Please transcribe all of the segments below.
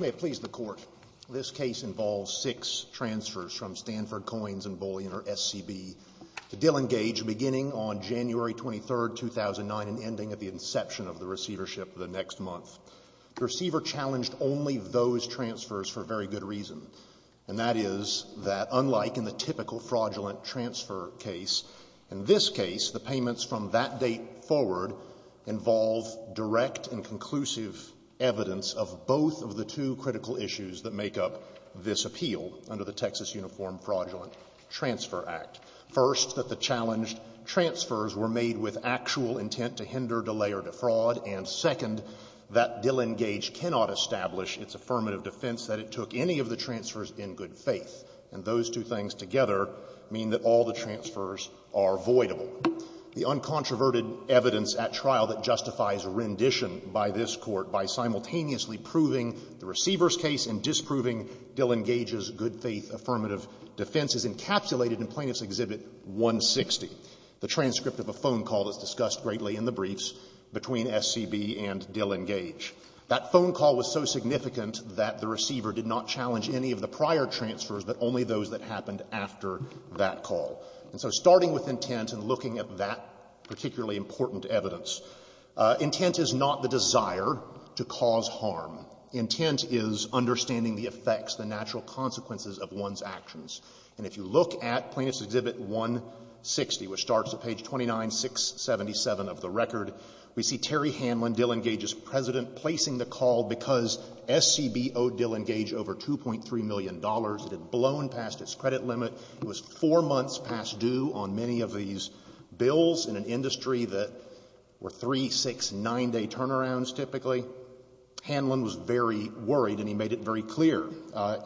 May it please the Court, this case involves six transfers from Stanford Coins & Bullion, or SCB, to Dillon Gage beginning on January 23, 2009 and ending at the inception of the receivership the next month. The receiver challenged only those transfers for a very good reason, and that is that unlike in the typical fraudulent transfer case, in this case the payments from that date forward involve direct and conclusive evidence of both of the two critical issues that make up this appeal under the Texas Uniform Fraudulent Transfer Act. First, that the challenged transfers were made with actual intent to hinder, delay, or defraud, and second, that Dillon Gage cannot establish its affirmative defense that it took any of the transfers in good faith. And those two things together mean that all the transfers are voidable. The uncontroverted evidence at trial that justifies rendition by this Court by simultaneously proving the receiver's case and disproving Dillon Gage's good faith affirmative defense is encapsulated in Plaintiff's Exhibit 160. The transcript of a phone call that's discussed greatly in the briefs between SCB and Dillon Gage. That phone call was so significant that the receiver did not challenge any of the prior transfers but only those that happened after that call. And so starting with intent and looking at that particularly important evidence, intent is not the desire to cause harm. Intent is understanding the effects, the natural consequences of one's actions. And if you look at Plaintiff's Exhibit 160, which starts at page 29, 677 of the record, we see Terry Hanlon, Dillon Gage's president, placing the call because SCB owed Dillon Gage over $2.3 million. It had blown past its credit limit. It was four months past due on many of these bills in an industry that were three, six, nine-day turnarounds typically. Hanlon was very worried and he made it very clear.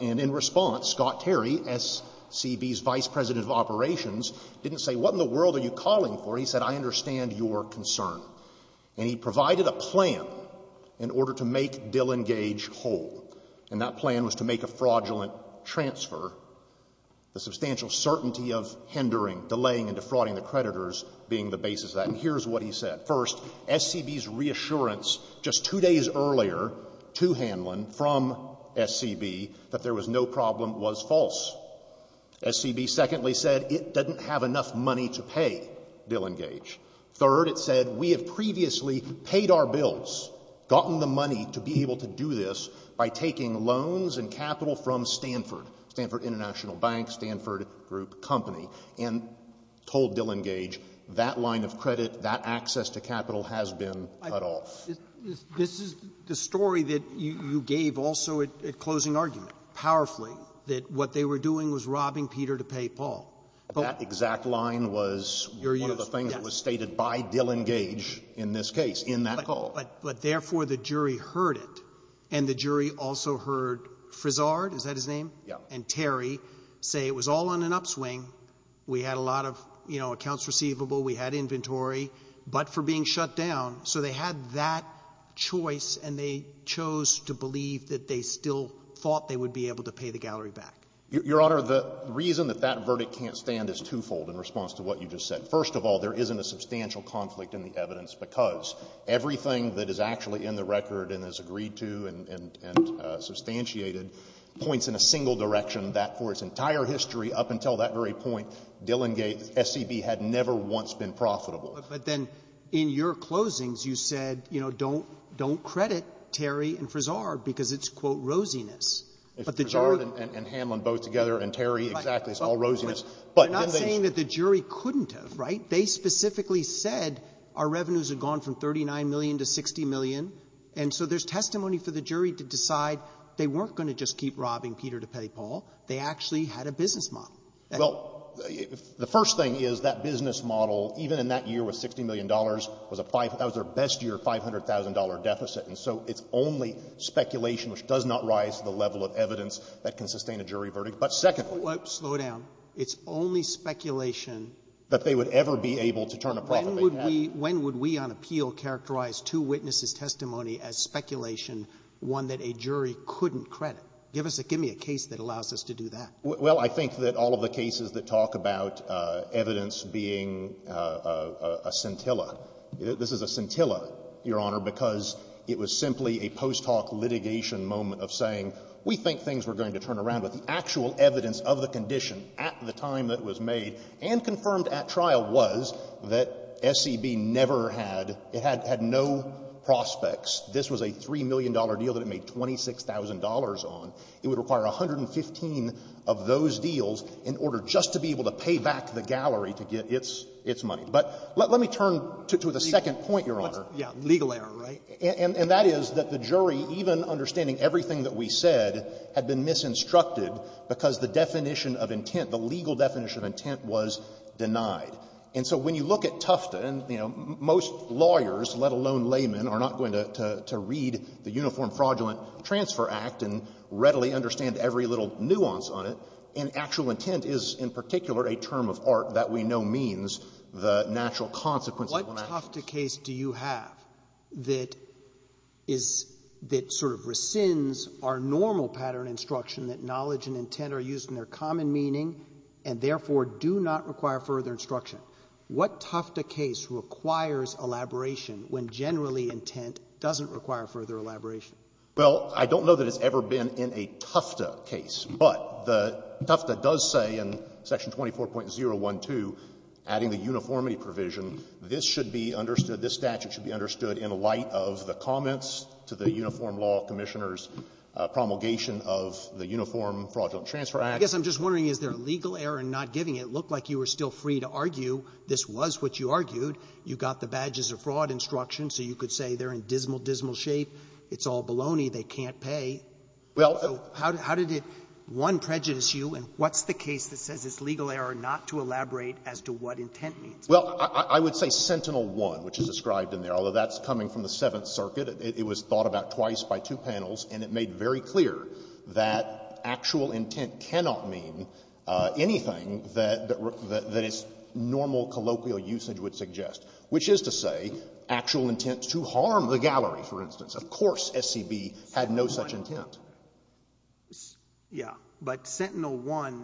And in response, Scott Terry, SCB's vice president of operations, didn't say, what in the world are you calling for? He said, I understand your concern. And he provided a plan in order to make Dillon Gage whole. And that plan was to make a fraudulent transfer, the substantial certainty of hindering, delaying and defrauding the creditors being the basis of that. And here's what he said. First, SCB's reassurance just two days earlier to Hanlon from SCB that there was no problem was false. SCB secondly said it doesn't have enough money to pay Dillon Gage. Third, it said, we have previously paid our bills, gotten the money to be able to do this by taking loans and capital from Stanford, Stanford International Bank, Stanford Group Company, and told Dillon Gage that line of credit, that access to capital has been cut off. This is the story that you gave also at closing argument, powerfully, that what they were doing was robbing Peter to pay Paul. That exact line was one of the things that was stated by Dillon Gage in this case, in that call. But therefore, the jury heard it. And the jury also heard Frizard, is that his name? Yeah. And Terry say it was all on an upswing. We had a lot of, you know, accounts receivable. We had inventory, but for being shut down. So they had that choice, and they chose to believe that they still thought they would be able to pay the gallery back. Your Honor, the reason that that verdict can't stand is twofold in response to what you just said. First of all, there isn't a substantial conflict in the evidence because everything that is actually in the record and is agreed to and substantiated points in a single direction that for its entire history up until that very point, Dillon Gage, SCB, had never once been profitable. But then in your closings, you said, you know, don't credit Terry and Frizard because it's, quote, rosiness. But the jury — Frizard and Hamlin both together, and Terry, exactly. It's all rosiness. But then they — You're not saying that the jury couldn't have, right? They specifically said our revenues had gone from $39 million to $60 million. And so there's testimony for the jury to decide they weren't going to just keep robbing Peter to pay Paul. They actually had a business model. Well, the first thing is that business model, even in that year with $60 million, was a five — that was their best year, $500,000 deficit. And so it's only speculation, which does not rise to the level of evidence that can sustain a jury verdict. But secondly — Slow down. It's only speculation — That they would ever be able to turn a profit. When would we — when would we on appeal characterize two witnesses' testimony as speculation, one that a jury couldn't credit? Give us a — give me a case that allows us to do that. Well, I think that all of the cases that talk about evidence being a scintilla — this is a scintilla, Your Honor, because it was simply a post-talk litigation moment of saying we think things were going to turn around, but the actual evidence of the condition at the time that it was made and confirmed at trial was that SCB never had — it had no prospects. This was a $3 million deal that it made $26,000 on. It would require 115 of those deals in order just to be able to pay back the gallery to get its money. But let me turn to the second point, Your Honor. Yeah. Legal error, right? And that is that the jury, even understanding everything that we said, had been misinstructed because the definition of intent, the legal definition of intent, was denied. And so when you look at Tufta, and, you know, most lawyers, let alone laymen, are not going to read the Uniform Fraudulent Transfer Act and readily understand every little nuance on it. And actual intent is, in particular, a term of art that we know means the natural consequences of an action. What Tufta case do you have that is — that sort of rescinds our normal pattern instruction that knowledge and intent are used in their common meaning and, therefore, do not require further instruction? What Tufta case requires elaboration when generally intent doesn't require further elaboration? Well, I don't know that it's ever been in a Tufta case, but the — Tufta does say in Section 24.012, adding the uniformity provision, this should be understood — this statute should be understood in light of the comments to the Uniform Law Commissioner's promulgation of the Uniform Fraudulent Transfer Act. I guess I'm just wondering, is there a legal error in not giving it? It looked like you were still free to argue this was what you argued. You got the badges of fraud instruction, so you could say they're in dismal, dismal shape. It's all baloney. They can't pay. Well — So how did it, one, prejudice you, and what's the case that says it's legal error not to elaborate as to what intent means? Well, I would say Sentinel-1, which is described in there, although that's coming from the Seventh Circuit. It was thought about twice by two panels, and it made very clear that actual intent cannot mean anything that its normal colloquial usage would suggest, which is to say actual intent to harm the gallery, for instance. Of course SCB had no such intent. Yeah. But Sentinel-1,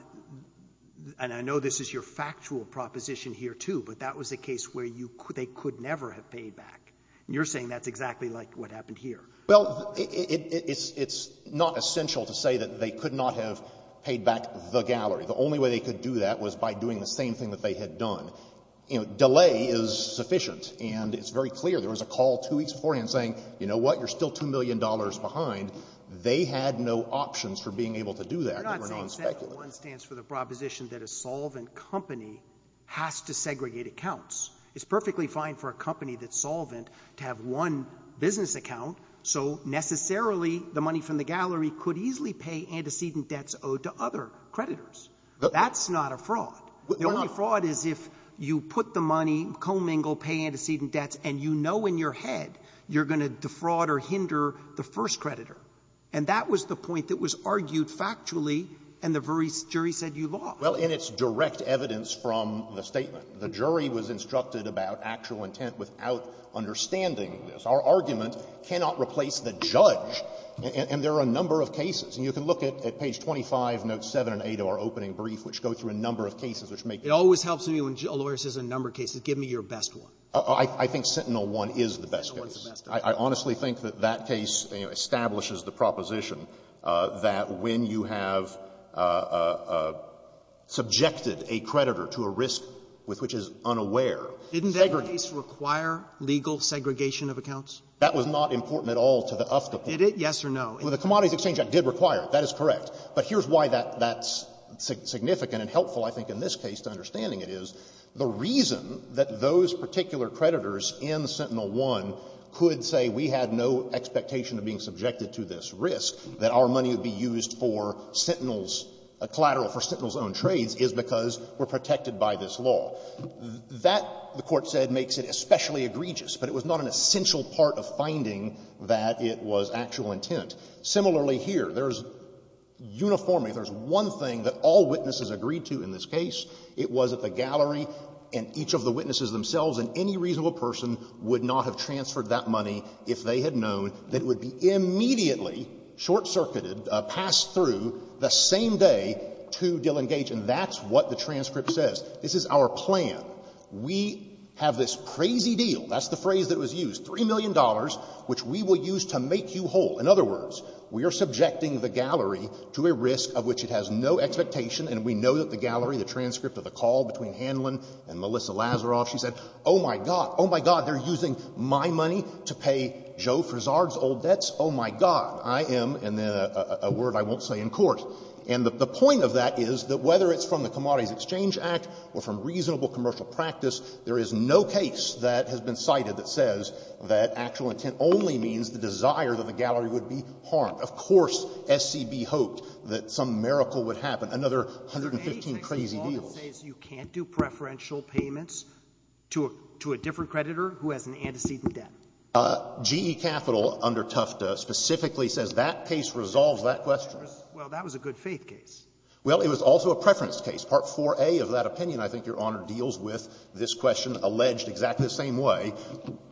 and I know this is your factual proposition here, too, but that was a case where you — they could never have paid back. And you're saying that's exactly like what happened here. Well, it's not essential to say that they could not have paid back the gallery. The only way they could do that was by doing the same thing that they had done. You know, delay is sufficient, and it's very clear. There was a call two weeks beforehand saying, you know what, you're still $2 million behind. They had no options for being able to do that. But you're not saying Sentinel-1 stands for the proposition that a solvent company has to segregate accounts. It's perfectly fine for a company that's solvent to have one business account, so necessarily the money from the gallery could easily pay antecedent debts owed to other creditors. That's not a fraud. The only fraud is if you put the money, commingle, pay antecedent debts, and you know in your head you're going to defraud or hinder the first creditor. And that was the point that was argued factually, and the jury said you lost. Well, and it's direct evidence from the statement. The jury was instructed about actual intent without understanding this. Our argument cannot replace the judge, and there are a number of cases. And you can look at page 25, notes 7 and 8 of our opening brief, which go through a number of cases, which make — It always helps me when a lawyer says a number of cases. Give me your best one. I think Sentinel-1 is the best case. I honestly think that that case establishes the proposition that when you have subjected a creditor to a risk with which is unaware, segregate — Didn't that case require legal segregation of accounts? That was not important at all to the UFCA point. Did it? Yes or no? Well, the Commodities Exchange Act did require it. That is correct. But here's why that's significant and helpful, I think, in this case, to understanding it is the reason that those particular creditors in Sentinel-1 could say we had no expectation of being subjected to this risk, that our money would be used for Sentinel's — a collateral for Sentinel's own trades is because we're protected by this law. That, the Court said, makes it especially egregious, but it was not an essential part of finding that it was actual intent. Similarly here, there's uniformly — there's one thing that all witnesses agreed to in this case. It was that the gallery and each of the witnesses themselves and any reasonable person would not have transferred that money if they had known that it would be immediately short-circuited, passed through the same day to Dillon Gage, and that's what the transcript says. This is our plan. We have this crazy deal — that's the phrase that was used — $3 million, which we will use to make you whole. In other words, we are subjecting the gallery to a risk of which it has no expectation, and we know that the gallery, the transcript of the call between Hanlon and Melissa Lazaroff, she said, oh, my God, oh, my God, they're using my money to pay Joe Frisard's old debts? Oh, my God, I am — and then a word I won't say in court. And the point of that is that whether it's from the Commodities Exchange Act or from reasonable commercial practice, there is no case that has been cited that says that actual intent only means the desire that the gallery would be harmed. Of course SCB hoped that some miracle would happen. Another 115 crazy deals. You can't do preferential payments to a — to a different creditor who has an antecedent debt. GE Capital under Tufta specifically says that case resolves that question. Well, that was a good-faith case. Well, it was also a preference case. Part IVa of that opinion, I think, Your Honor, deals with this question alleged exactly the same way.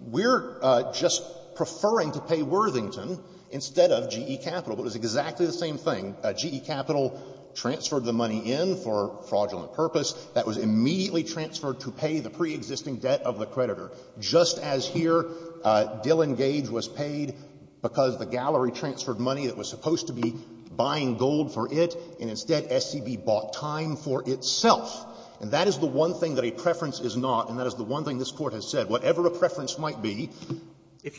We're just preferring to pay Worthington instead of GE Capital. It was exactly the same thing. GE Capital transferred the money in for a fraudulent purpose. That was immediately transferred to pay the preexisting debt of the creditor. Just as here, Dillon Gage was paid because the gallery transferred money that was supposed to be buying gold for it, and instead SCB bought time for itself. And that is the one thing that a preference is not, and that is the one thing this Court has said. Whatever a preference might be,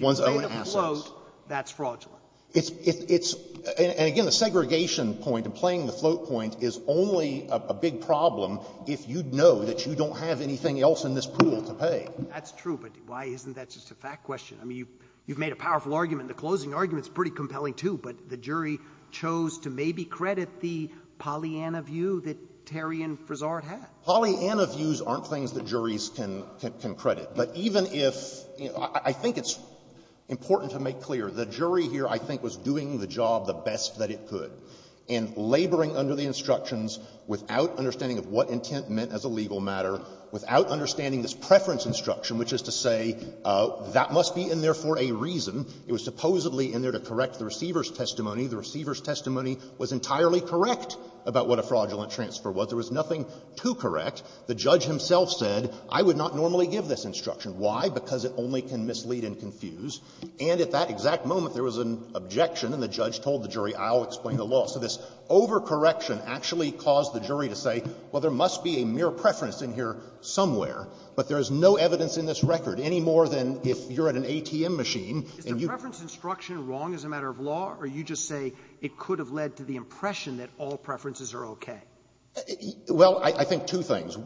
one's own assets. If you made a float, that's fraudulent. It's — it's — and again, the segregation point and playing the float point is only a big problem if you know that you don't have anything else in this pool to pay. That's true, but why isn't that just a fact question? I mean, you've made a powerful argument. The closing argument is pretty compelling, too. But the jury chose to maybe credit the Pollyanna view that Terry and Frisard had. Pollyanna views aren't things that juries can — can credit. But even if — I think it's important to make clear. The jury here, I think, was doing the job the best that it could and laboring under the instructions without understanding of what intent meant as a legal matter, without understanding this preference instruction, which is to say that must be in there for a reason. It was supposedly in there to correct the receiver's testimony. The receiver's testimony was entirely correct about what a fraudulent transfer was. There was nothing too correct. The judge himself said, I would not normally give this instruction. Why? Because it only can mislead and confuse. And at that exact moment, there was an objection, and the judge told the jury, I'll explain the law. So this overcorrection actually caused the jury to say, well, there must be a mere preference in here somewhere, but there is no evidence in this record, any more than if you're at an ATM machine and you — Sotomayor, is the preference instruction wrong as a matter of law, or you just say it could have led to the impression that all preferences are okay? Well, I think two things.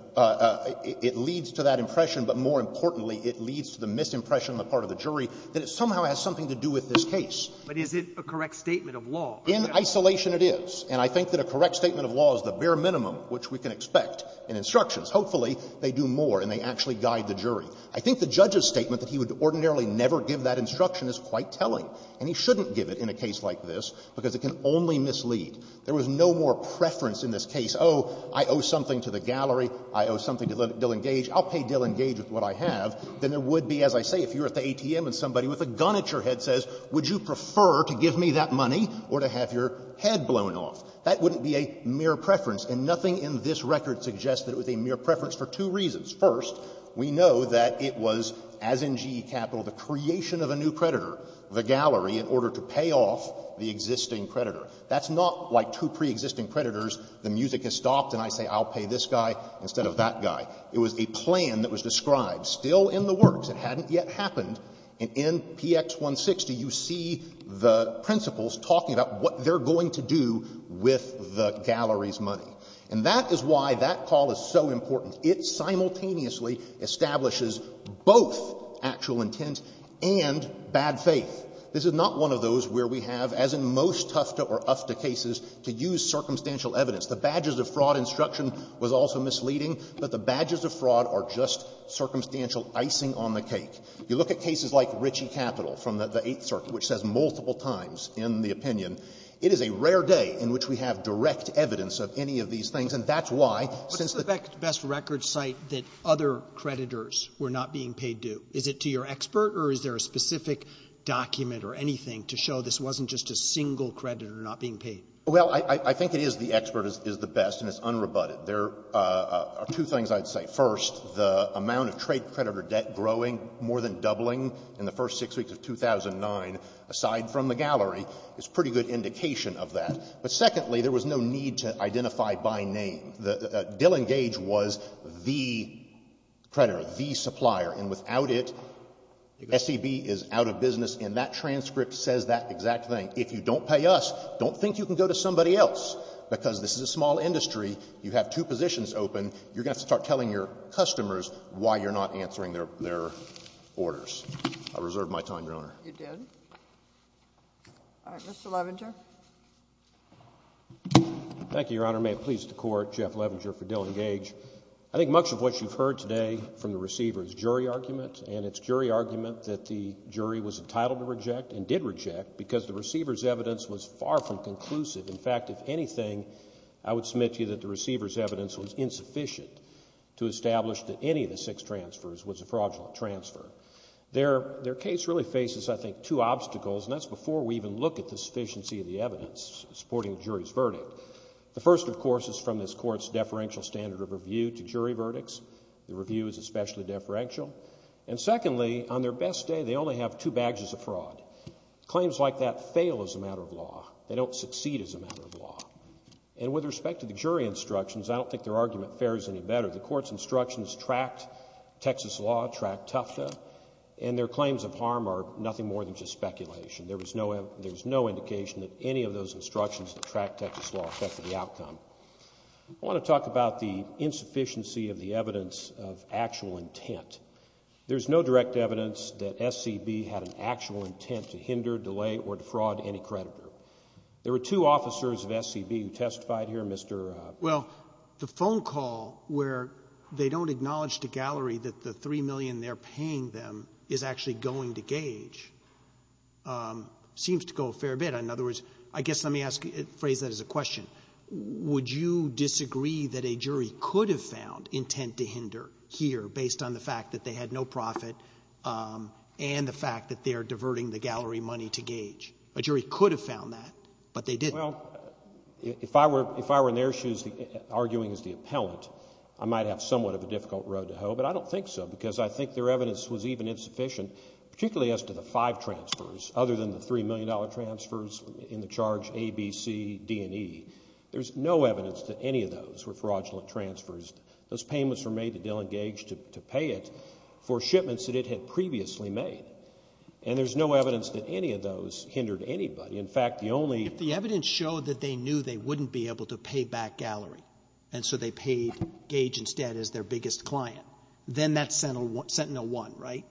It leads to that impression, but more importantly, it leads to the misimpression on the part of the jury that it somehow has something to do with this case. But is it a correct statement of law? In isolation, it is. And I think that a correct statement of law is the bare minimum which we can expect in instructions. Hopefully, they do more and they actually guide the jury. I think the judge's statement that he would ordinarily never give that instruction is quite telling. And he shouldn't give it in a case like this, because it can only mislead. There was no more preference in this case. Oh, I owe something to the gallery, I owe something to Dill & Gage, I'll pay Dill & Gage with what I have, than there would be, as I say, if you're at the ATM and somebody with a gun at your head says, would you prefer to give me that money or to have your head blown off? That wouldn't be a mere preference, and nothing in this record suggests that it was a mere preference for two reasons. First, we know that it was, as in GE Capital, the creation of a new creditor, the gallery, in order to pay off the existing creditor. That's not like two preexisting creditors, the music has stopped and I say, I'll pay this guy instead of that guy. It was a plan that was described, still in the works. It hadn't yet happened. And in P.X. 160, you see the principals talking about what they're going to do with the gallery's money. And that is why that call is so important. It simultaneously establishes both actual intent and bad faith. This is not one of those where we have, as in most Tufta or UFTA cases, to use circumstantial evidence. The badges of fraud instruction was also misleading, but the badges of fraud are just circumstantial icing on the cake. You look at cases like Ritchie Capital from the Eighth Circuit, which says multiple times in the opinion, it is a rare day in which we have direct evidence of any of these things, and that's why, since the Best Records site that other creditors were not being paid due. Is it to your expert, or is there a specific document or anything to show this wasn't just a single creditor not being paid? Well, I think it is the expert is the best, and it's unrebutted. There are two things I'd say. First, the amount of trade creditor debt growing, more than doubling in the first six weeks of 2009, aside from the gallery, is a pretty good indication of that. But secondly, there was no need to identify by name. The Dillon Gage was the creditor, the supplier, and without it, SEB is out of business. And that transcript says that exact thing. If you don't pay us, don't think you can go to somebody else, because this is a small industry, you have two positions open, you're going to have to start telling your customers why you're not answering their orders. I reserved my time, Your Honor. You did? All right. Mr. Leventer. Thank you, Your Honor. May it please the Court. Jeff Leventer for Dillon Gage. I think much of what you've heard today from the receiver is jury argument, and it's jury argument that the jury was entitled to reject and did reject, because the receiver's evidence was far from conclusive. In fact, if anything, I would submit to you that the receiver's evidence was insufficient to establish that any of the six transfers was a fraudulent transfer. Their case really faces, I think, two obstacles, and that's before we even look at the sufficiency of the evidence supporting the jury's verdict. The first, of course, is from this Court's deferential standard of review to jury verdicts. The review is especially deferential. And secondly, on their best day, they only have two badges of fraud. Claims like that fail as a matter of law. They don't succeed as a matter of law. And with respect to the jury instructions, I don't think their argument fares any better. The Court's instructions tracked Texas law, tracked Tufta, and their claims of harm are nothing more than just speculation. There's no indication that any of those instructions that track Texas law affect the outcome. I want to talk about the insufficiency of the evidence of actual intent. There's no direct evidence that SCB had an actual intent to hinder, delay, or defraud any creditor. There were two officers of SCB who testified here, Mr. — Well, the phone call where they don't acknowledge to Gallery that the $3 million they're asking for seems to go a fair bit. In other words, I guess let me ask — phrase that as a question. Would you disagree that a jury could have found intent to hinder here based on the fact that they had no profit and the fact that they're diverting the Gallery money to Gage? A jury could have found that, but they didn't. Well, if I were in their shoes arguing as the appellant, I might have somewhat of a difficult road to hoe, but I don't think so, because I think their evidence was even insufficient, particularly as to the five transfers, other than the $3 million transfers in the charge A, B, C, D, and E. There's no evidence that any of those were fraudulent transfers. Those payments were made to Dill and Gage to pay it for shipments that it had previously made, and there's no evidence that any of those hindered anybody. In fact, the only — If the evidence showed that they knew they wouldn't be able to pay back Gallery, and so they paid Gage instead as their biggest client, then that's Sentinel-1, right?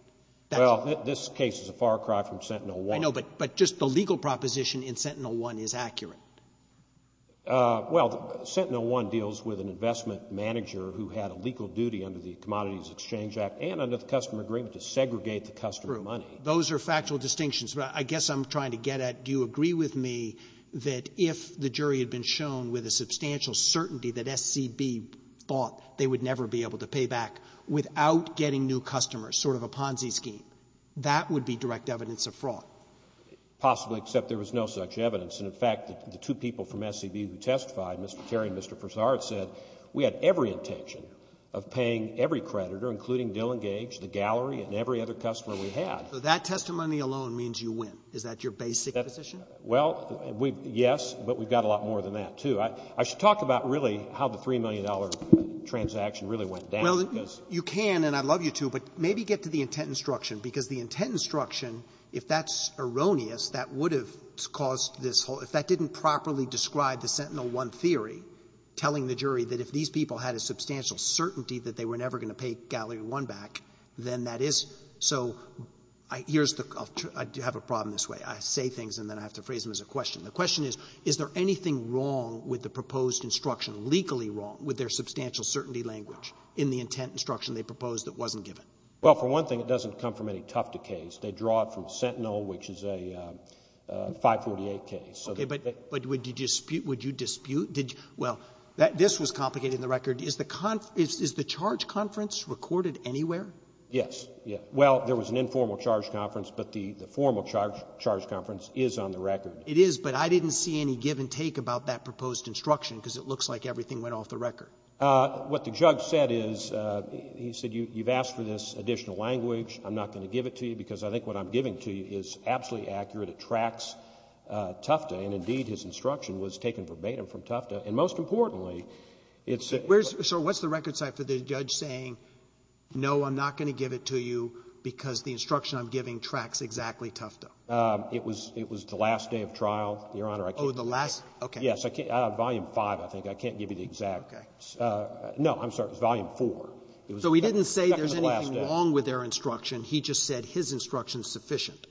Well, this case is a far cry from Sentinel-1. I know, but just the legal proposition in Sentinel-1 is accurate. Well, Sentinel-1 deals with an investment manager who had a legal duty under the Commodities Exchange Act and under the customer agreement to segregate the customer money. True. Those are factual distinctions. But I guess I'm trying to get at do you agree with me that if the jury had been shown with a substantial certainty that SCB thought they would never be able to pay back without getting new customers, sort of a Ponzi scheme, that would be direct evidence of fraud? Possibly, except there was no such evidence. And, in fact, the two people from SCB who testified, Mr. Terry and Mr. Fasard, said we had every intention of paying every creditor, including Dill and Gage, the Gallery, and every other customer we had. So that testimony alone means you win. Is that your basic position? Well, yes, but we've got a lot more than that, too. I should talk about really how the $3 million transaction really went down. Well, you can, and I'd love you to, but maybe get to the intent instruction, because the intent instruction, if that's erroneous, that would have caused this whole — if that didn't properly describe the Sentinel-1 theory telling the jury that if these people had a substantial certainty that they were never going to pay Gallery-1 back, then that is — so here's the — I have a problem this way. I say things and then I have to phrase them as a question. The question is, is there anything wrong with the proposed instruction, legally wrong, with their substantial certainty language in the intent instruction they proposed that wasn't given? Well, for one thing, it doesn't come from any Tufti case. They draw it from Sentinel, which is a 548 case. Okay. But would you dispute — would you dispute — well, this was complicated in the record. Is the charge conference recorded anywhere? Yes. Well, there was an informal charge conference, but the formal charge conference is on the record. It is, but I didn't see any give and take about that proposed instruction, because it looks like everything went off the record. What the judge said is, he said you've asked for this additional language. I'm not going to give it to you, because I think what I'm giving to you is absolutely accurate. It tracks Tufti, and indeed his instruction was taken verbatim from Tufti. And most importantly, it's — So what's the record site for the judge saying, no, I'm not going to give it to you, because the instruction I'm giving tracks exactly Tufti? It was the last day of trial, Your Honor. Oh, the last — okay. Yes. Volume 5, I think. I can't give you the exact — Okay. No, I'm sorry. It was Volume 4. So he didn't say there's anything wrong with their instruction. He just said his instruction is sufficient.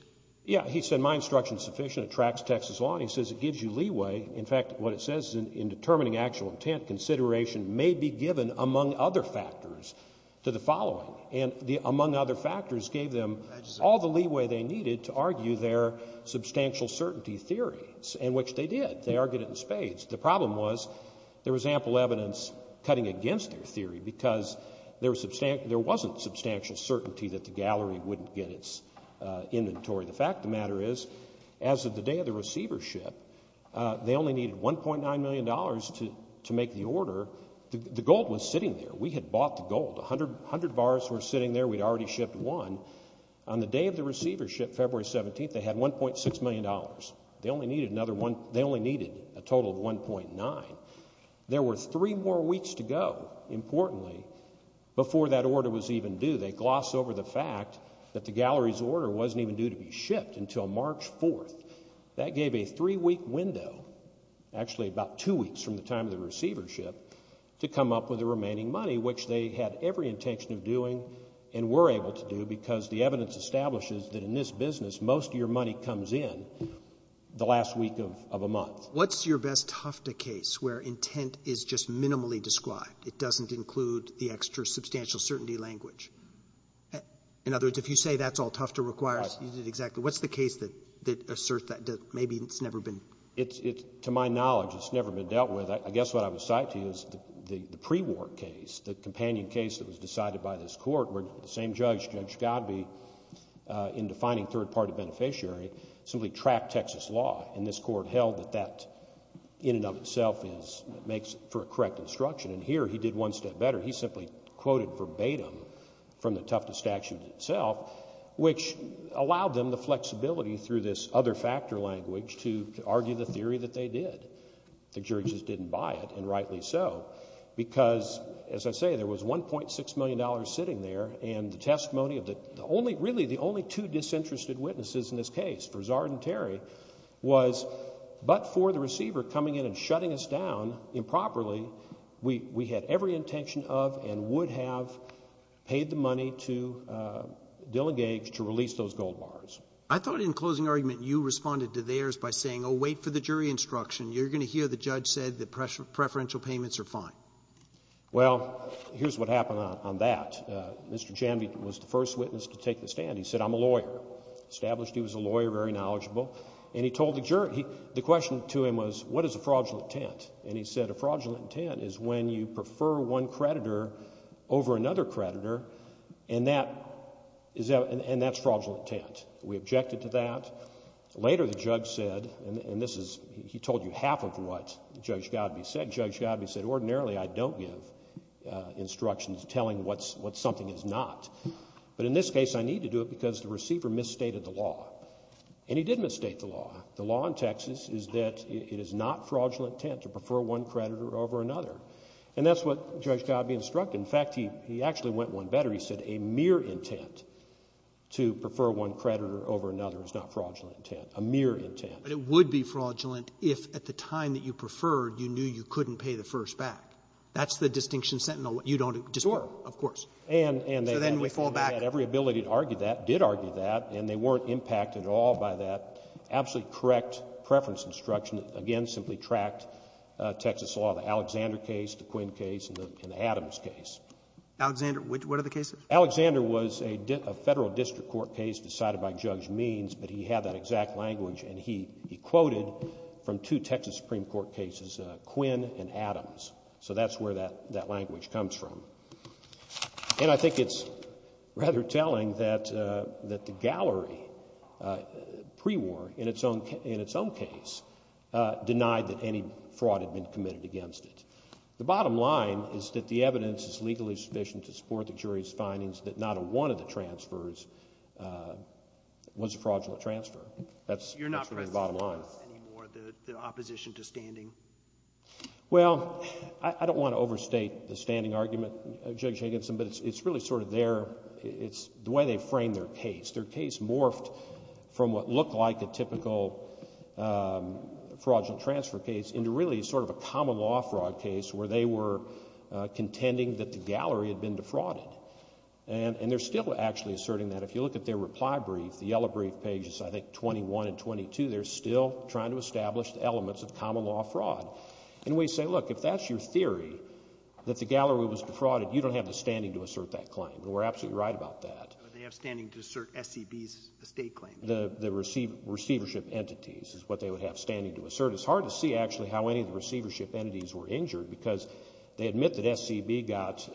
He said my instruction is sufficient. It tracks Texas law. And he says it gives you leeway. In fact, what it says is in determining actual intent, consideration may be given, among other factors, to the following. And the among other factors gave them all the leeway they needed to argue their substantial certainty theories, and which they did. They argued it in spades. The problem was there was ample evidence cutting against their theory, because there wasn't substantial certainty that the gallery wouldn't get its inventory. The fact of the matter is, as of the day of the receivership, they only needed $1.9 million to make the order. The gold was sitting there. We had bought the gold. A hundred bars were sitting there. We'd already shipped one. On the day of the receivership, February 17th, they had $1.6 million. They only needed another one — they only needed a total of $1.9. There were three more weeks to go, importantly, before that order was even due. They gloss over the fact that the gallery's order wasn't even due to be shipped until March 4th. That gave a three-week window — actually, about two weeks from the time of the receivership — to come up with the remaining money, which they had every intention of doing and were able to do, because the evidence establishes that in this business, most of your money comes in the last week of a month. What's your best Hofda case where intent is just minimally described? It doesn't include the extra substantial certainty language? In other words, if you say that's all Tufter requires, you did exactly — what's the case that asserts that maybe it's never been — To my knowledge, it's never been dealt with. I guess what I would cite to you is the pre-war case, the companion case that was decided by this Court, where the same judge, Judge Godbee, in defining third-party beneficiary, simply tracked Texas law. And this Court held that that, in and of itself, makes for a correct instruction. And here, he did one step better. He simply quoted verbatim from the Tufta statute itself, which allowed them the flexibility through this other-factor language to argue the theory that they did. The jury just didn't buy it, and rightly so, because, as I say, there was $1.6 million sitting there, and the testimony of the only — really, the only two disinterested witnesses in this case for Zard and Terry was, but for the receiver coming in and shutting us down improperly, we had every intention of and would have paid the money to Dillon Gage to release those gold bars. I thought, in closing argument, you responded to theirs by saying, oh, wait for the jury instruction. You're going to hear the judge said that preferential payments are fine. Well, here's what happened on that. Mr. Janvey was the first witness to take the stand. He said, I'm a lawyer. Established he was a lawyer, very knowledgeable. And he told the jury — the question to him was, what is a fraudulent intent? And he said, a fraudulent intent is when you prefer one creditor over another creditor, and that's fraudulent intent. We objected to that. Later, the judge said — and this is — he told you half of what Judge Goudbee said. Judge Goudbee said, ordinarily, I don't give instructions telling what something is not. But in this case, I need to do it because the receiver misstated the law. And he did misstate the law. The law in Texas is that it is not fraudulent intent to prefer one creditor over another. And that's what Judge Goudbee instructed. In fact, he actually went one better. He said a mere intent to prefer one creditor over another is not fraudulent intent, a mere intent. But it would be fraudulent if at the time that you preferred, you knew you couldn't pay the first back. That's the distinction sentinel. You don't — Sure. Of course. So then we fall back. And they had every ability to argue that, did argue that, and they weren't impacted at all by that absolutely correct preference instruction that, again, simply tracked Texas law, the Alexander case, the Quinn case, and the Adams case. Alexander — what are the cases? Alexander was a federal district court case decided by Judge Means, but he had that exact language. And he quoted from two Texas Supreme Court cases, Quinn and Adams. So that's where that language comes from. And I think it's rather telling that the gallery, pre-war, in its own case, denied that any fraud had been committed against it. The bottom line is that the evidence is legally sufficient to support the jury's findings that not a one of the transfers was a fraudulent transfer. That's really the bottom line. Well, I don't want to overstate the standing argument of Judge Higginson, but it's really sort of their — it's the way they frame their case. Their case morphed from what looked like a typical fraudulent transfer case into really sort of a common law fraud case where they were contending that the gallery had been defrauded. And they're still actually asserting that. If you look at their reply brief, the yellow brief pages, I think, 21 and 22, they're still trying to establish the elements of common law fraud. And we say, look, if that's your theory, that the gallery was defrauded, you don't have the standing to assert that claim. And we're absolutely right about that. They have standing to assert SCB's estate claim. The receivership entities is what they would have standing to assert. It's hard to see, actually, how any of the receivership entities were injured because they admit that SCB got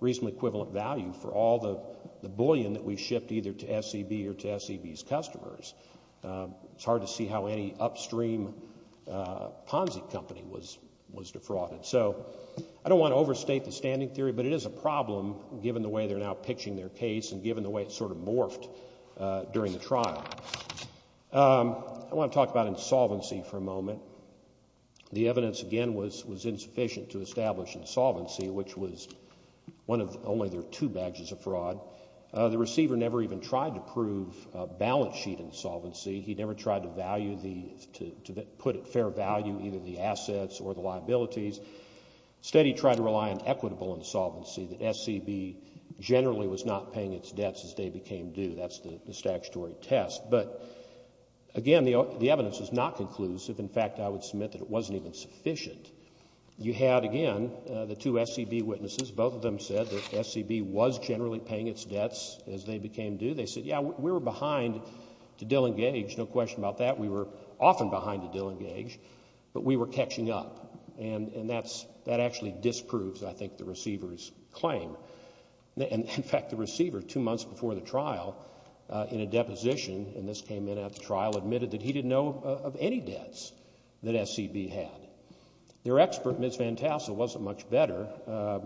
reasonably equivalent value for all the bullion that we shipped either to SCB or to SCB's customers. It's hard to see how any upstream Ponzi company was defrauded. So I don't want to overstate the standing theory, but it is a problem, given the way they're now pitching their case and given the way it sort of morphed during the trial. I want to talk about insolvency for a moment. The evidence, again, was insufficient to establish insolvency, which was only their two badges of fraud. The receiver never even tried to prove balance sheet insolvency. He never tried to put at fair value either the assets or the liabilities. Instead, he tried to rely on equitable insolvency, that SCB generally was not paying its debts as they became due. That's the statutory test. But, again, the evidence is not conclusive. In fact, I would submit that it wasn't even sufficient. You had, again, the two SCB witnesses. Both of them said that SCB was generally paying its debts as they became due. They said, yeah, we were behind to Dillon Gage, no question about that. We were often behind to Dillon Gage, but we were catching up. And that actually disproves, I think, the receiver's claim. In fact, the receiver, two months before the trial, in a deposition, and this came in after the trial, admitted that he didn't know of any debts that SCB had. Their expert, Ms. Van Tassel, wasn't much better.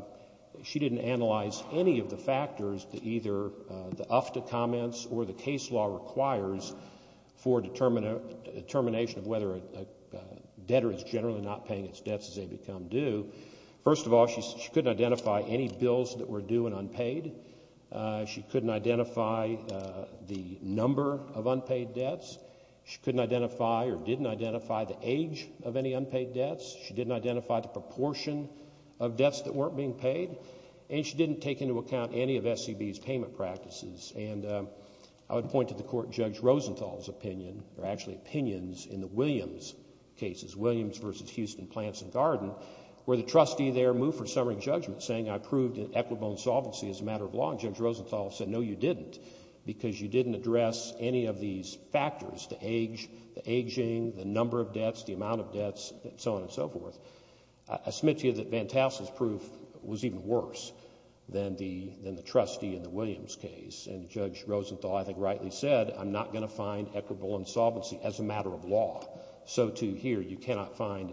She didn't analyze any of the factors that either the UFTA comments or the case law requires for determination of whether a debtor is generally not paying its debts as they become due. First of all, she couldn't identify any bills that were due and unpaid. She couldn't identify the number of unpaid debts. She couldn't identify or didn't identify the age of any unpaid debts. She didn't identify the proportion of debts that weren't being paid. And she didn't take into account any of SCB's payment practices. And I would point to the Court Judge Rosenthal's opinion, or actually opinions, in the Williams cases, Williams v. Houston, Plants and Garden, where the trustee there moved for summary judgment, saying I proved equitable insolvency is a matter of law. And Judge Rosenthal said, no, you didn't, because you didn't address any of these factors, the age, the aging, the number of debts, the amount of debts, and so on and so forth. I submit to you that Van Tassel's proof was even worse than the trustee in the Williams case. And Judge Rosenthal, I think, rightly said, I'm not going to find equitable insolvency as a matter of law. So, too, here, you cannot find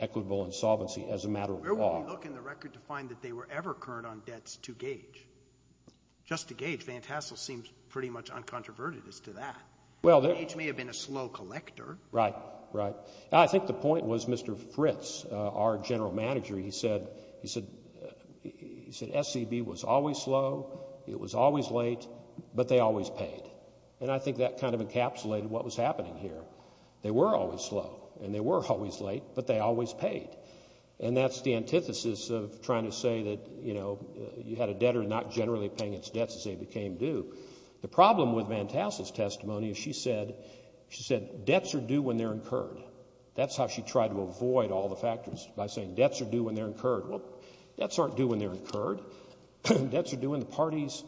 equitable insolvency as a matter of law. Where would we look in the record to find that they were ever current on debts to Gage? Just to Gage, Van Tassel seems pretty much uncontroverted as to that. Gage may have been a slow collector. Right, right. I think the point was Mr. Fritz, our general manager, he said SCB was always slow, it was always late, but they always paid. And I think that kind of encapsulated what was happening here. They were always slow, and they were always late, but they always paid. And that's the antithesis of trying to say that, you know, you had a debtor not generally paying its debts as they became due. The problem with Van Tassel's testimony is she said debts are due when they're incurred. That's how she tried to avoid all the factors by saying debts are due when they're incurred. Well, debts aren't due when they're incurred. Debts are due when the parties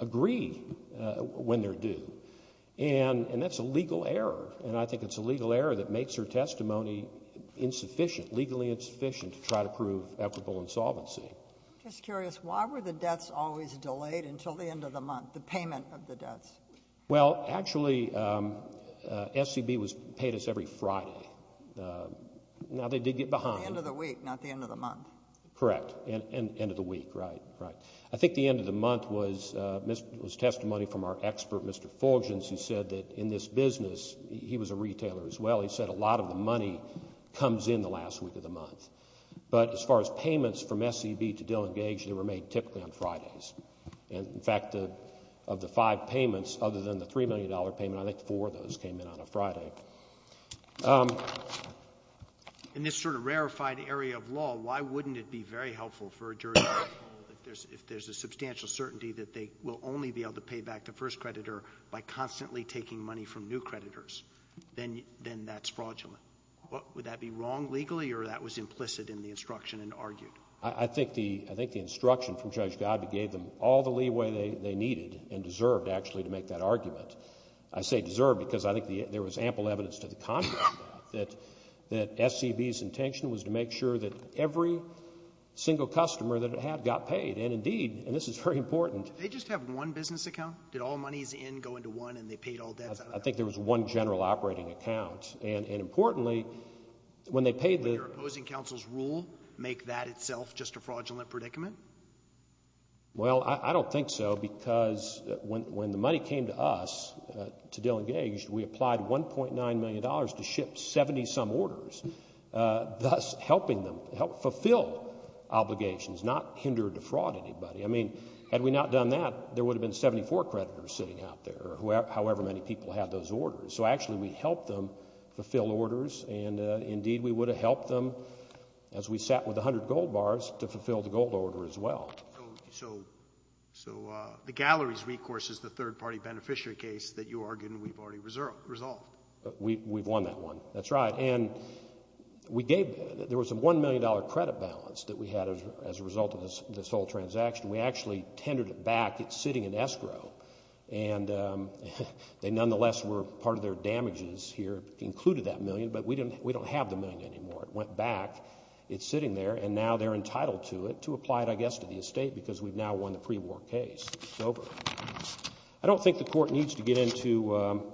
agree when they're due. And that's a legal error. And I think it's a legal error that makes her testimony insufficient, legally insufficient to try to prove equitable insolvency. Just curious, why were the debts always delayed until the end of the month, the payment of the debts? Well, actually, SCB paid us every Friday. Now, they did get behind. At the end of the week, not the end of the month. Correct, end of the week, right, right. I think the end of the month was testimony from our expert, Mr. Fulgens, who said that in this business, he was a retailer as well, he said a lot of the money comes in the last week of the month. But as far as payments from SCB to Dillon Gage, they were made typically on Fridays. And, in fact, of the five payments, other than the $3 million payment, I think four of those came in on a Friday. In this sort of rarefied area of law, why wouldn't it be very helpful for a jury to know that if there's a substantial certainty that they will only be able to pay back the first creditor by constantly taking money from new creditors, then that's fraudulent? Would that be wrong legally, or that was implicit in the instruction and argued? I think the instruction from Judge Godbee gave them all the leeway they needed and deserved, actually, to make that argument. I say deserved because I think there was ample evidence to the contrary, that SCB's intention was to make sure that every single customer that it had got paid. And, indeed, and this is very important. Did they just have one business account? Did all monies in go into one and they paid all debts out of that? I think there was one general operating account. And, importantly, when they paid the— Would your opposing counsel's rule make that itself just a fraudulent predicament? Well, I don't think so because when the money came to us, to Dillon Gage, we applied $1.9 million to ship 70-some orders, thus helping them fulfill obligations, not hinder or defraud anybody. I mean, had we not done that, there would have been 74 creditors sitting out there, however many people had those orders. So, actually, we helped them fulfill orders. And, indeed, we would have helped them, as we sat with 100 gold bars, to fulfill the gold order as well. So the Galleries recourse is the third-party beneficiary case that you argued and we've already resolved. We've won that one. That's right. And we gave—there was a $1 million credit balance that we had as a result of this whole transaction. We actually tended it back. It's sitting in escrow. And they, nonetheless, were part of their damages here, included that million, but we don't have the million anymore. It went back. It's sitting there, and now they're entitled to it, to apply it, I guess, to the estate because we've now won the pre-war case. It's over. I don't think the Court needs to get into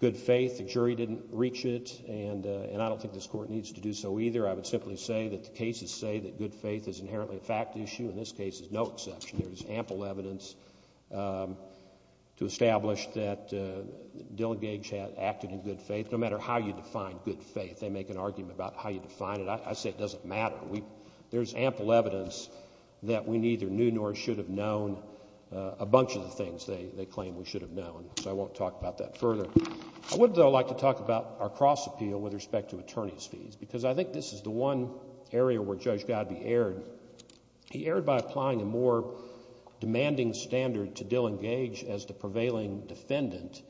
good faith. The jury didn't reach it, and I don't think this Court needs to do so either. I would simply say that the cases say that good faith is inherently a fact issue. In this case, there's no exception. There's ample evidence to establish that Dilligage had acted in good faith. No matter how you define good faith, they make an argument about how you define it. I say it doesn't matter. There's ample evidence that we neither knew nor should have known a bunch of the things they claim we should have known, so I won't talk about that further. I would, though, like to talk about our cross-appeal with respect to attorney's fees because I think this is the one area where Judge Godbee erred. He erred by applying a more demanding standard to Dilligage as the prevailing defendant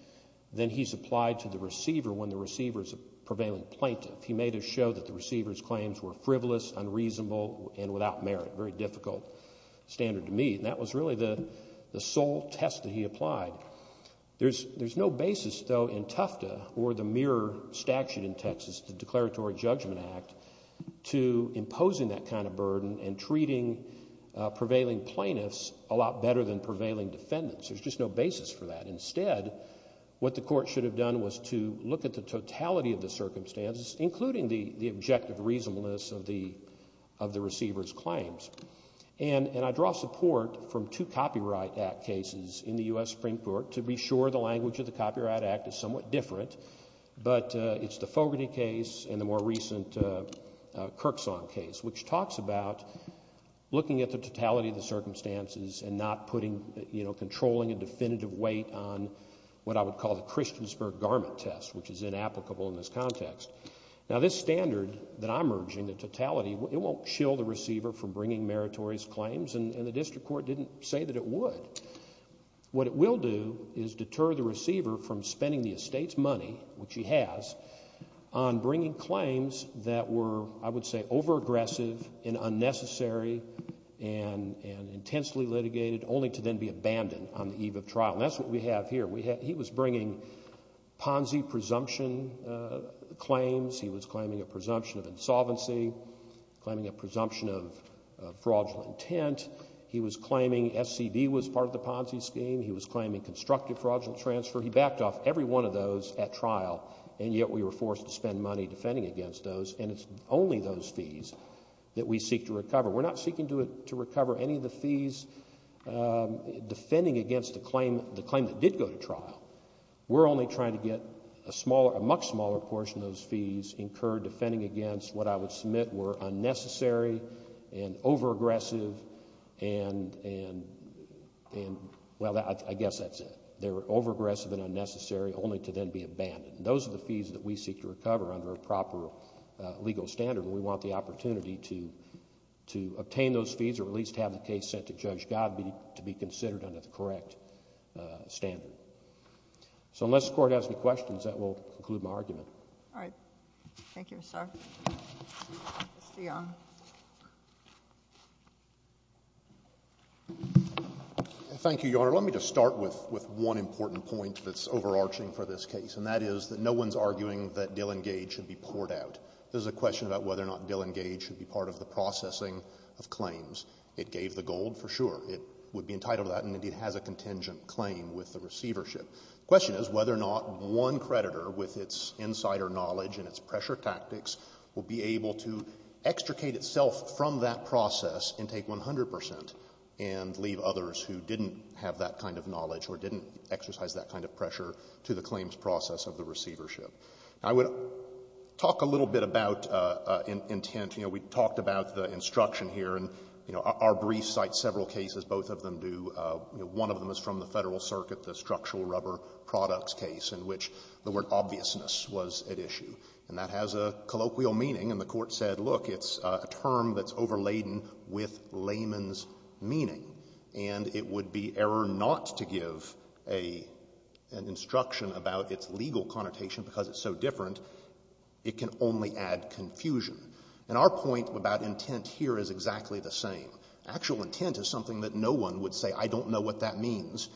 than he's applied to the receiver when the receiver is a prevailing plaintiff. He made it show that the receiver's claims were frivolous, unreasonable, and without merit, a very difficult standard to meet. That was really the sole test that he applied. There's no basis, though, in Tufta or the mirror statute in Texas, the Declaratory Judgment Act, to imposing that kind of burden and treating prevailing plaintiffs a lot better than prevailing defendants. There's just no basis for that. Instead, what the court should have done was to look at the totality of the circumstances, including the objective reasonableness of the receiver's claims. And I draw support from two Copyright Act cases in the U.S. Supreme Court to be sure the language of the Copyright Act is somewhat different, but it's the Fogarty case and the more recent Kirksong case, which talks about looking at the totality of the circumstances and not controlling a definitive weight on what I would call the Christiansburg garment test, which is inapplicable in this context. Now, this standard that I'm urging, the totality, it won't shill the receiver from bringing meritorious claims, and the district court didn't say that it would. What it will do is deter the receiver from spending the estate's money, which he has, on bringing claims that were, I would say, overaggressive and unnecessary and intensely litigated, only to then be abandoned on the eve of trial. And that's what we have here. He was bringing Ponzi presumption claims. He was claiming a presumption of insolvency, claiming a presumption of fraudulent intent. He was claiming SCD was part of the Ponzi scheme. He was claiming constructive fraudulent transfer. He backed off every one of those at trial, and yet we were forced to spend money defending against those, and it's only those fees that we seek to recover. We're not seeking to recover any of the fees defending against the claim that did go to trial. We're only trying to get a much smaller portion of those fees incurred defending against what I would submit were unnecessary and overaggressive and, well, I guess that's it. They were overaggressive and unnecessary, only to then be abandoned. And those are the fees that we seek to recover under a proper legal standard, and we want the opportunity to obtain those fees or at least have the case sent to Judge Godbee to be considered under the correct standard. So unless the Court has any questions, that will conclude my argument. All right. Thank you, sir. Mr. Young. Thank you, Your Honor. Let me just start with one important point that's overarching for this case, and that is that no one's arguing that Dillon Gage should be poured out. This is a question about whether or not Dillon Gage should be part of the processing of claims. It gave the gold for sure. It would be entitled to that and, indeed, has a contingent claim with the receivership. The question is whether or not one creditor, with its insider knowledge and its pressure tactics, will be able to extricate itself from that process and take 100 percent and leave others who didn't have that kind of knowledge or didn't exercise that kind of pressure to the claims process of the receivership. I would talk a little bit about intent. You know, we talked about the instruction here. And, you know, our briefs cite several cases, both of them do. You know, one of them is from the Federal Circuit, the structural rubber products case in which the word obviousness was at issue. And that has a colloquial meaning. And the Court said, look, it's a term that's overladen with layman's meaning. And it would be error not to give an instruction about its legal connotation because it's so different. It can only add confusion. And our point about intent here is exactly the same. Actual intent is something that no one would say, I don't know what that means.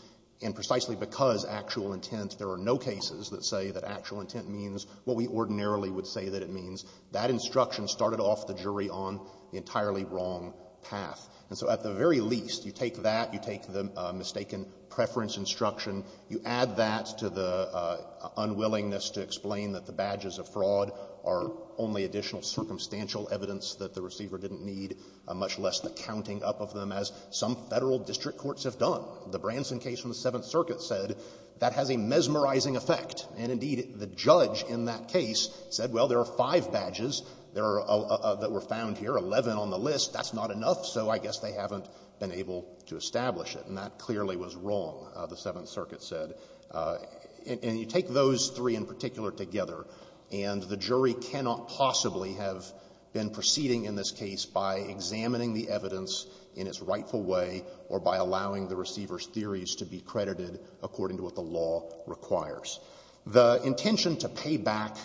And precisely because actual intent, there are no cases that say that actual intent means what we ordinarily would say that it means. That instruction started off the jury on the entirely wrong path. And so at the very least, you take that, you take the mistaken preference instruction, you add that to the unwillingness to explain that the badges of fraud are only additional circumstantial evidence that the receiver didn't need, much less the counting up of them as some Federal district courts have done. The Branson case from the Seventh Circuit said that has a mesmerizing effect. And, indeed, the judge in that case said, well, there are five badges that were found here, 11 on the list, that's not enough, so I guess they haven't been able to establish it. And that clearly was wrong, the Seventh Circuit said. And you take those three in particular together, and the jury cannot possibly have been proceeding in this case by examining the evidence in its rightful way or by The intention to pay back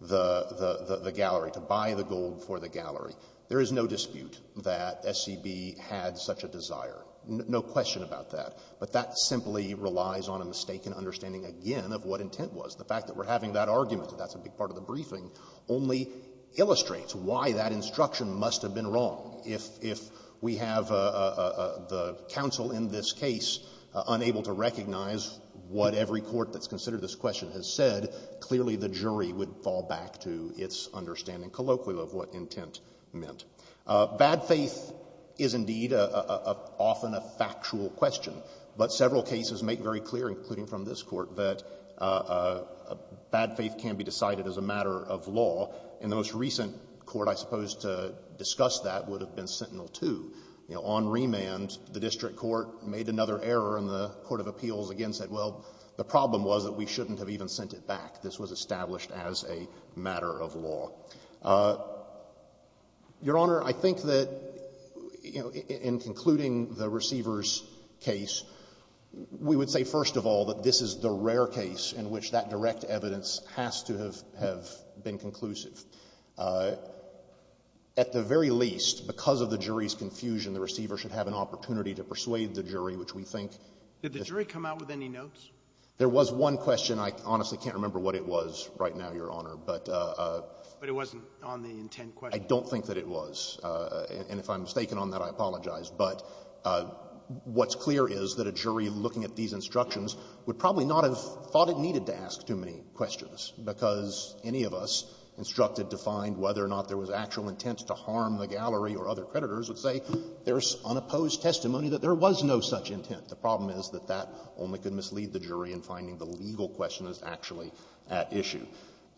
the gallery, to buy the gold for the gallery, there is no dispute that SCB had such a desire, no question about that. But that simply relies on a mistaken understanding, again, of what intent was. The fact that we're having that argument, and that's a big part of the briefing, only illustrates why that instruction must have been wrong. If we have the counsel in this case unable to recognize what every court that's question has said, clearly the jury would fall back to its understanding colloquial of what intent meant. Bad faith is, indeed, often a factual question. But several cases make very clear, including from this Court, that bad faith can be decided as a matter of law. And the most recent Court, I suppose, to discuss that would have been Sentinel 2. On remand, the district court made another error, and the court of appeals again said, well, the problem was that we shouldn't have even sent it back. This was established as a matter of law. Your Honor, I think that, you know, in concluding the receiver's case, we would say, first of all, that this is the rare case in which that direct evidence has to have been conclusive. At the very least, because of the jury's confusion, the receiver should have an opportunity to persuade the jury, which we think the jury comes out with any notion of. Roberts. There was one question. I honestly can't remember what it was right now, Your Honor. But it wasn't on the intent question. I don't think that it was. And if I'm mistaken on that, I apologize. But what's clear is that a jury looking at these instructions would probably not have thought it needed to ask too many questions, because any of us instructed to find whether or not there was actual intent to harm the gallery or other creditors would say there's unopposed testimony that there was no such intent. The problem is that that only could mislead the jury in finding the legal question is actually at issue.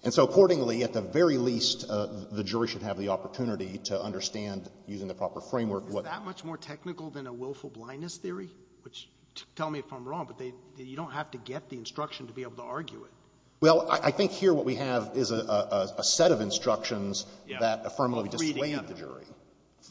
And so, accordingly, at the very least, the jury should have the opportunity to understand, using the proper framework, what the jury is saying. Alito. Is that much more technical than a willful blindness theory? Tell me if I'm wrong, but you don't have to get the instruction to be able to argue it. Roberts. Well, I think here what we have is a set of instructions that affirmably dissuade the jury.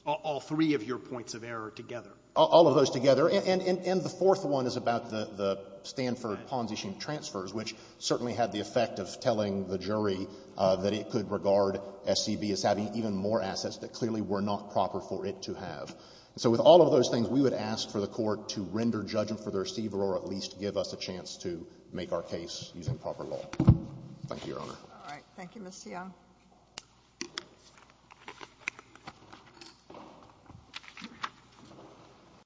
All three of your points of error together. All of those together. And the fourth one is about the Stanford Ponzi scheme transfers, which certainly had the effect of telling the jury that it could regard SCB as having even more assets that clearly were not proper for it to have. And so with all of those things, we would ask for the Court to render judgment for the receiver or at least give us a chance to make our case using proper law. Thank you, Your Honor. All right. Thank you, Mr. Young. Thank you, Your Honor.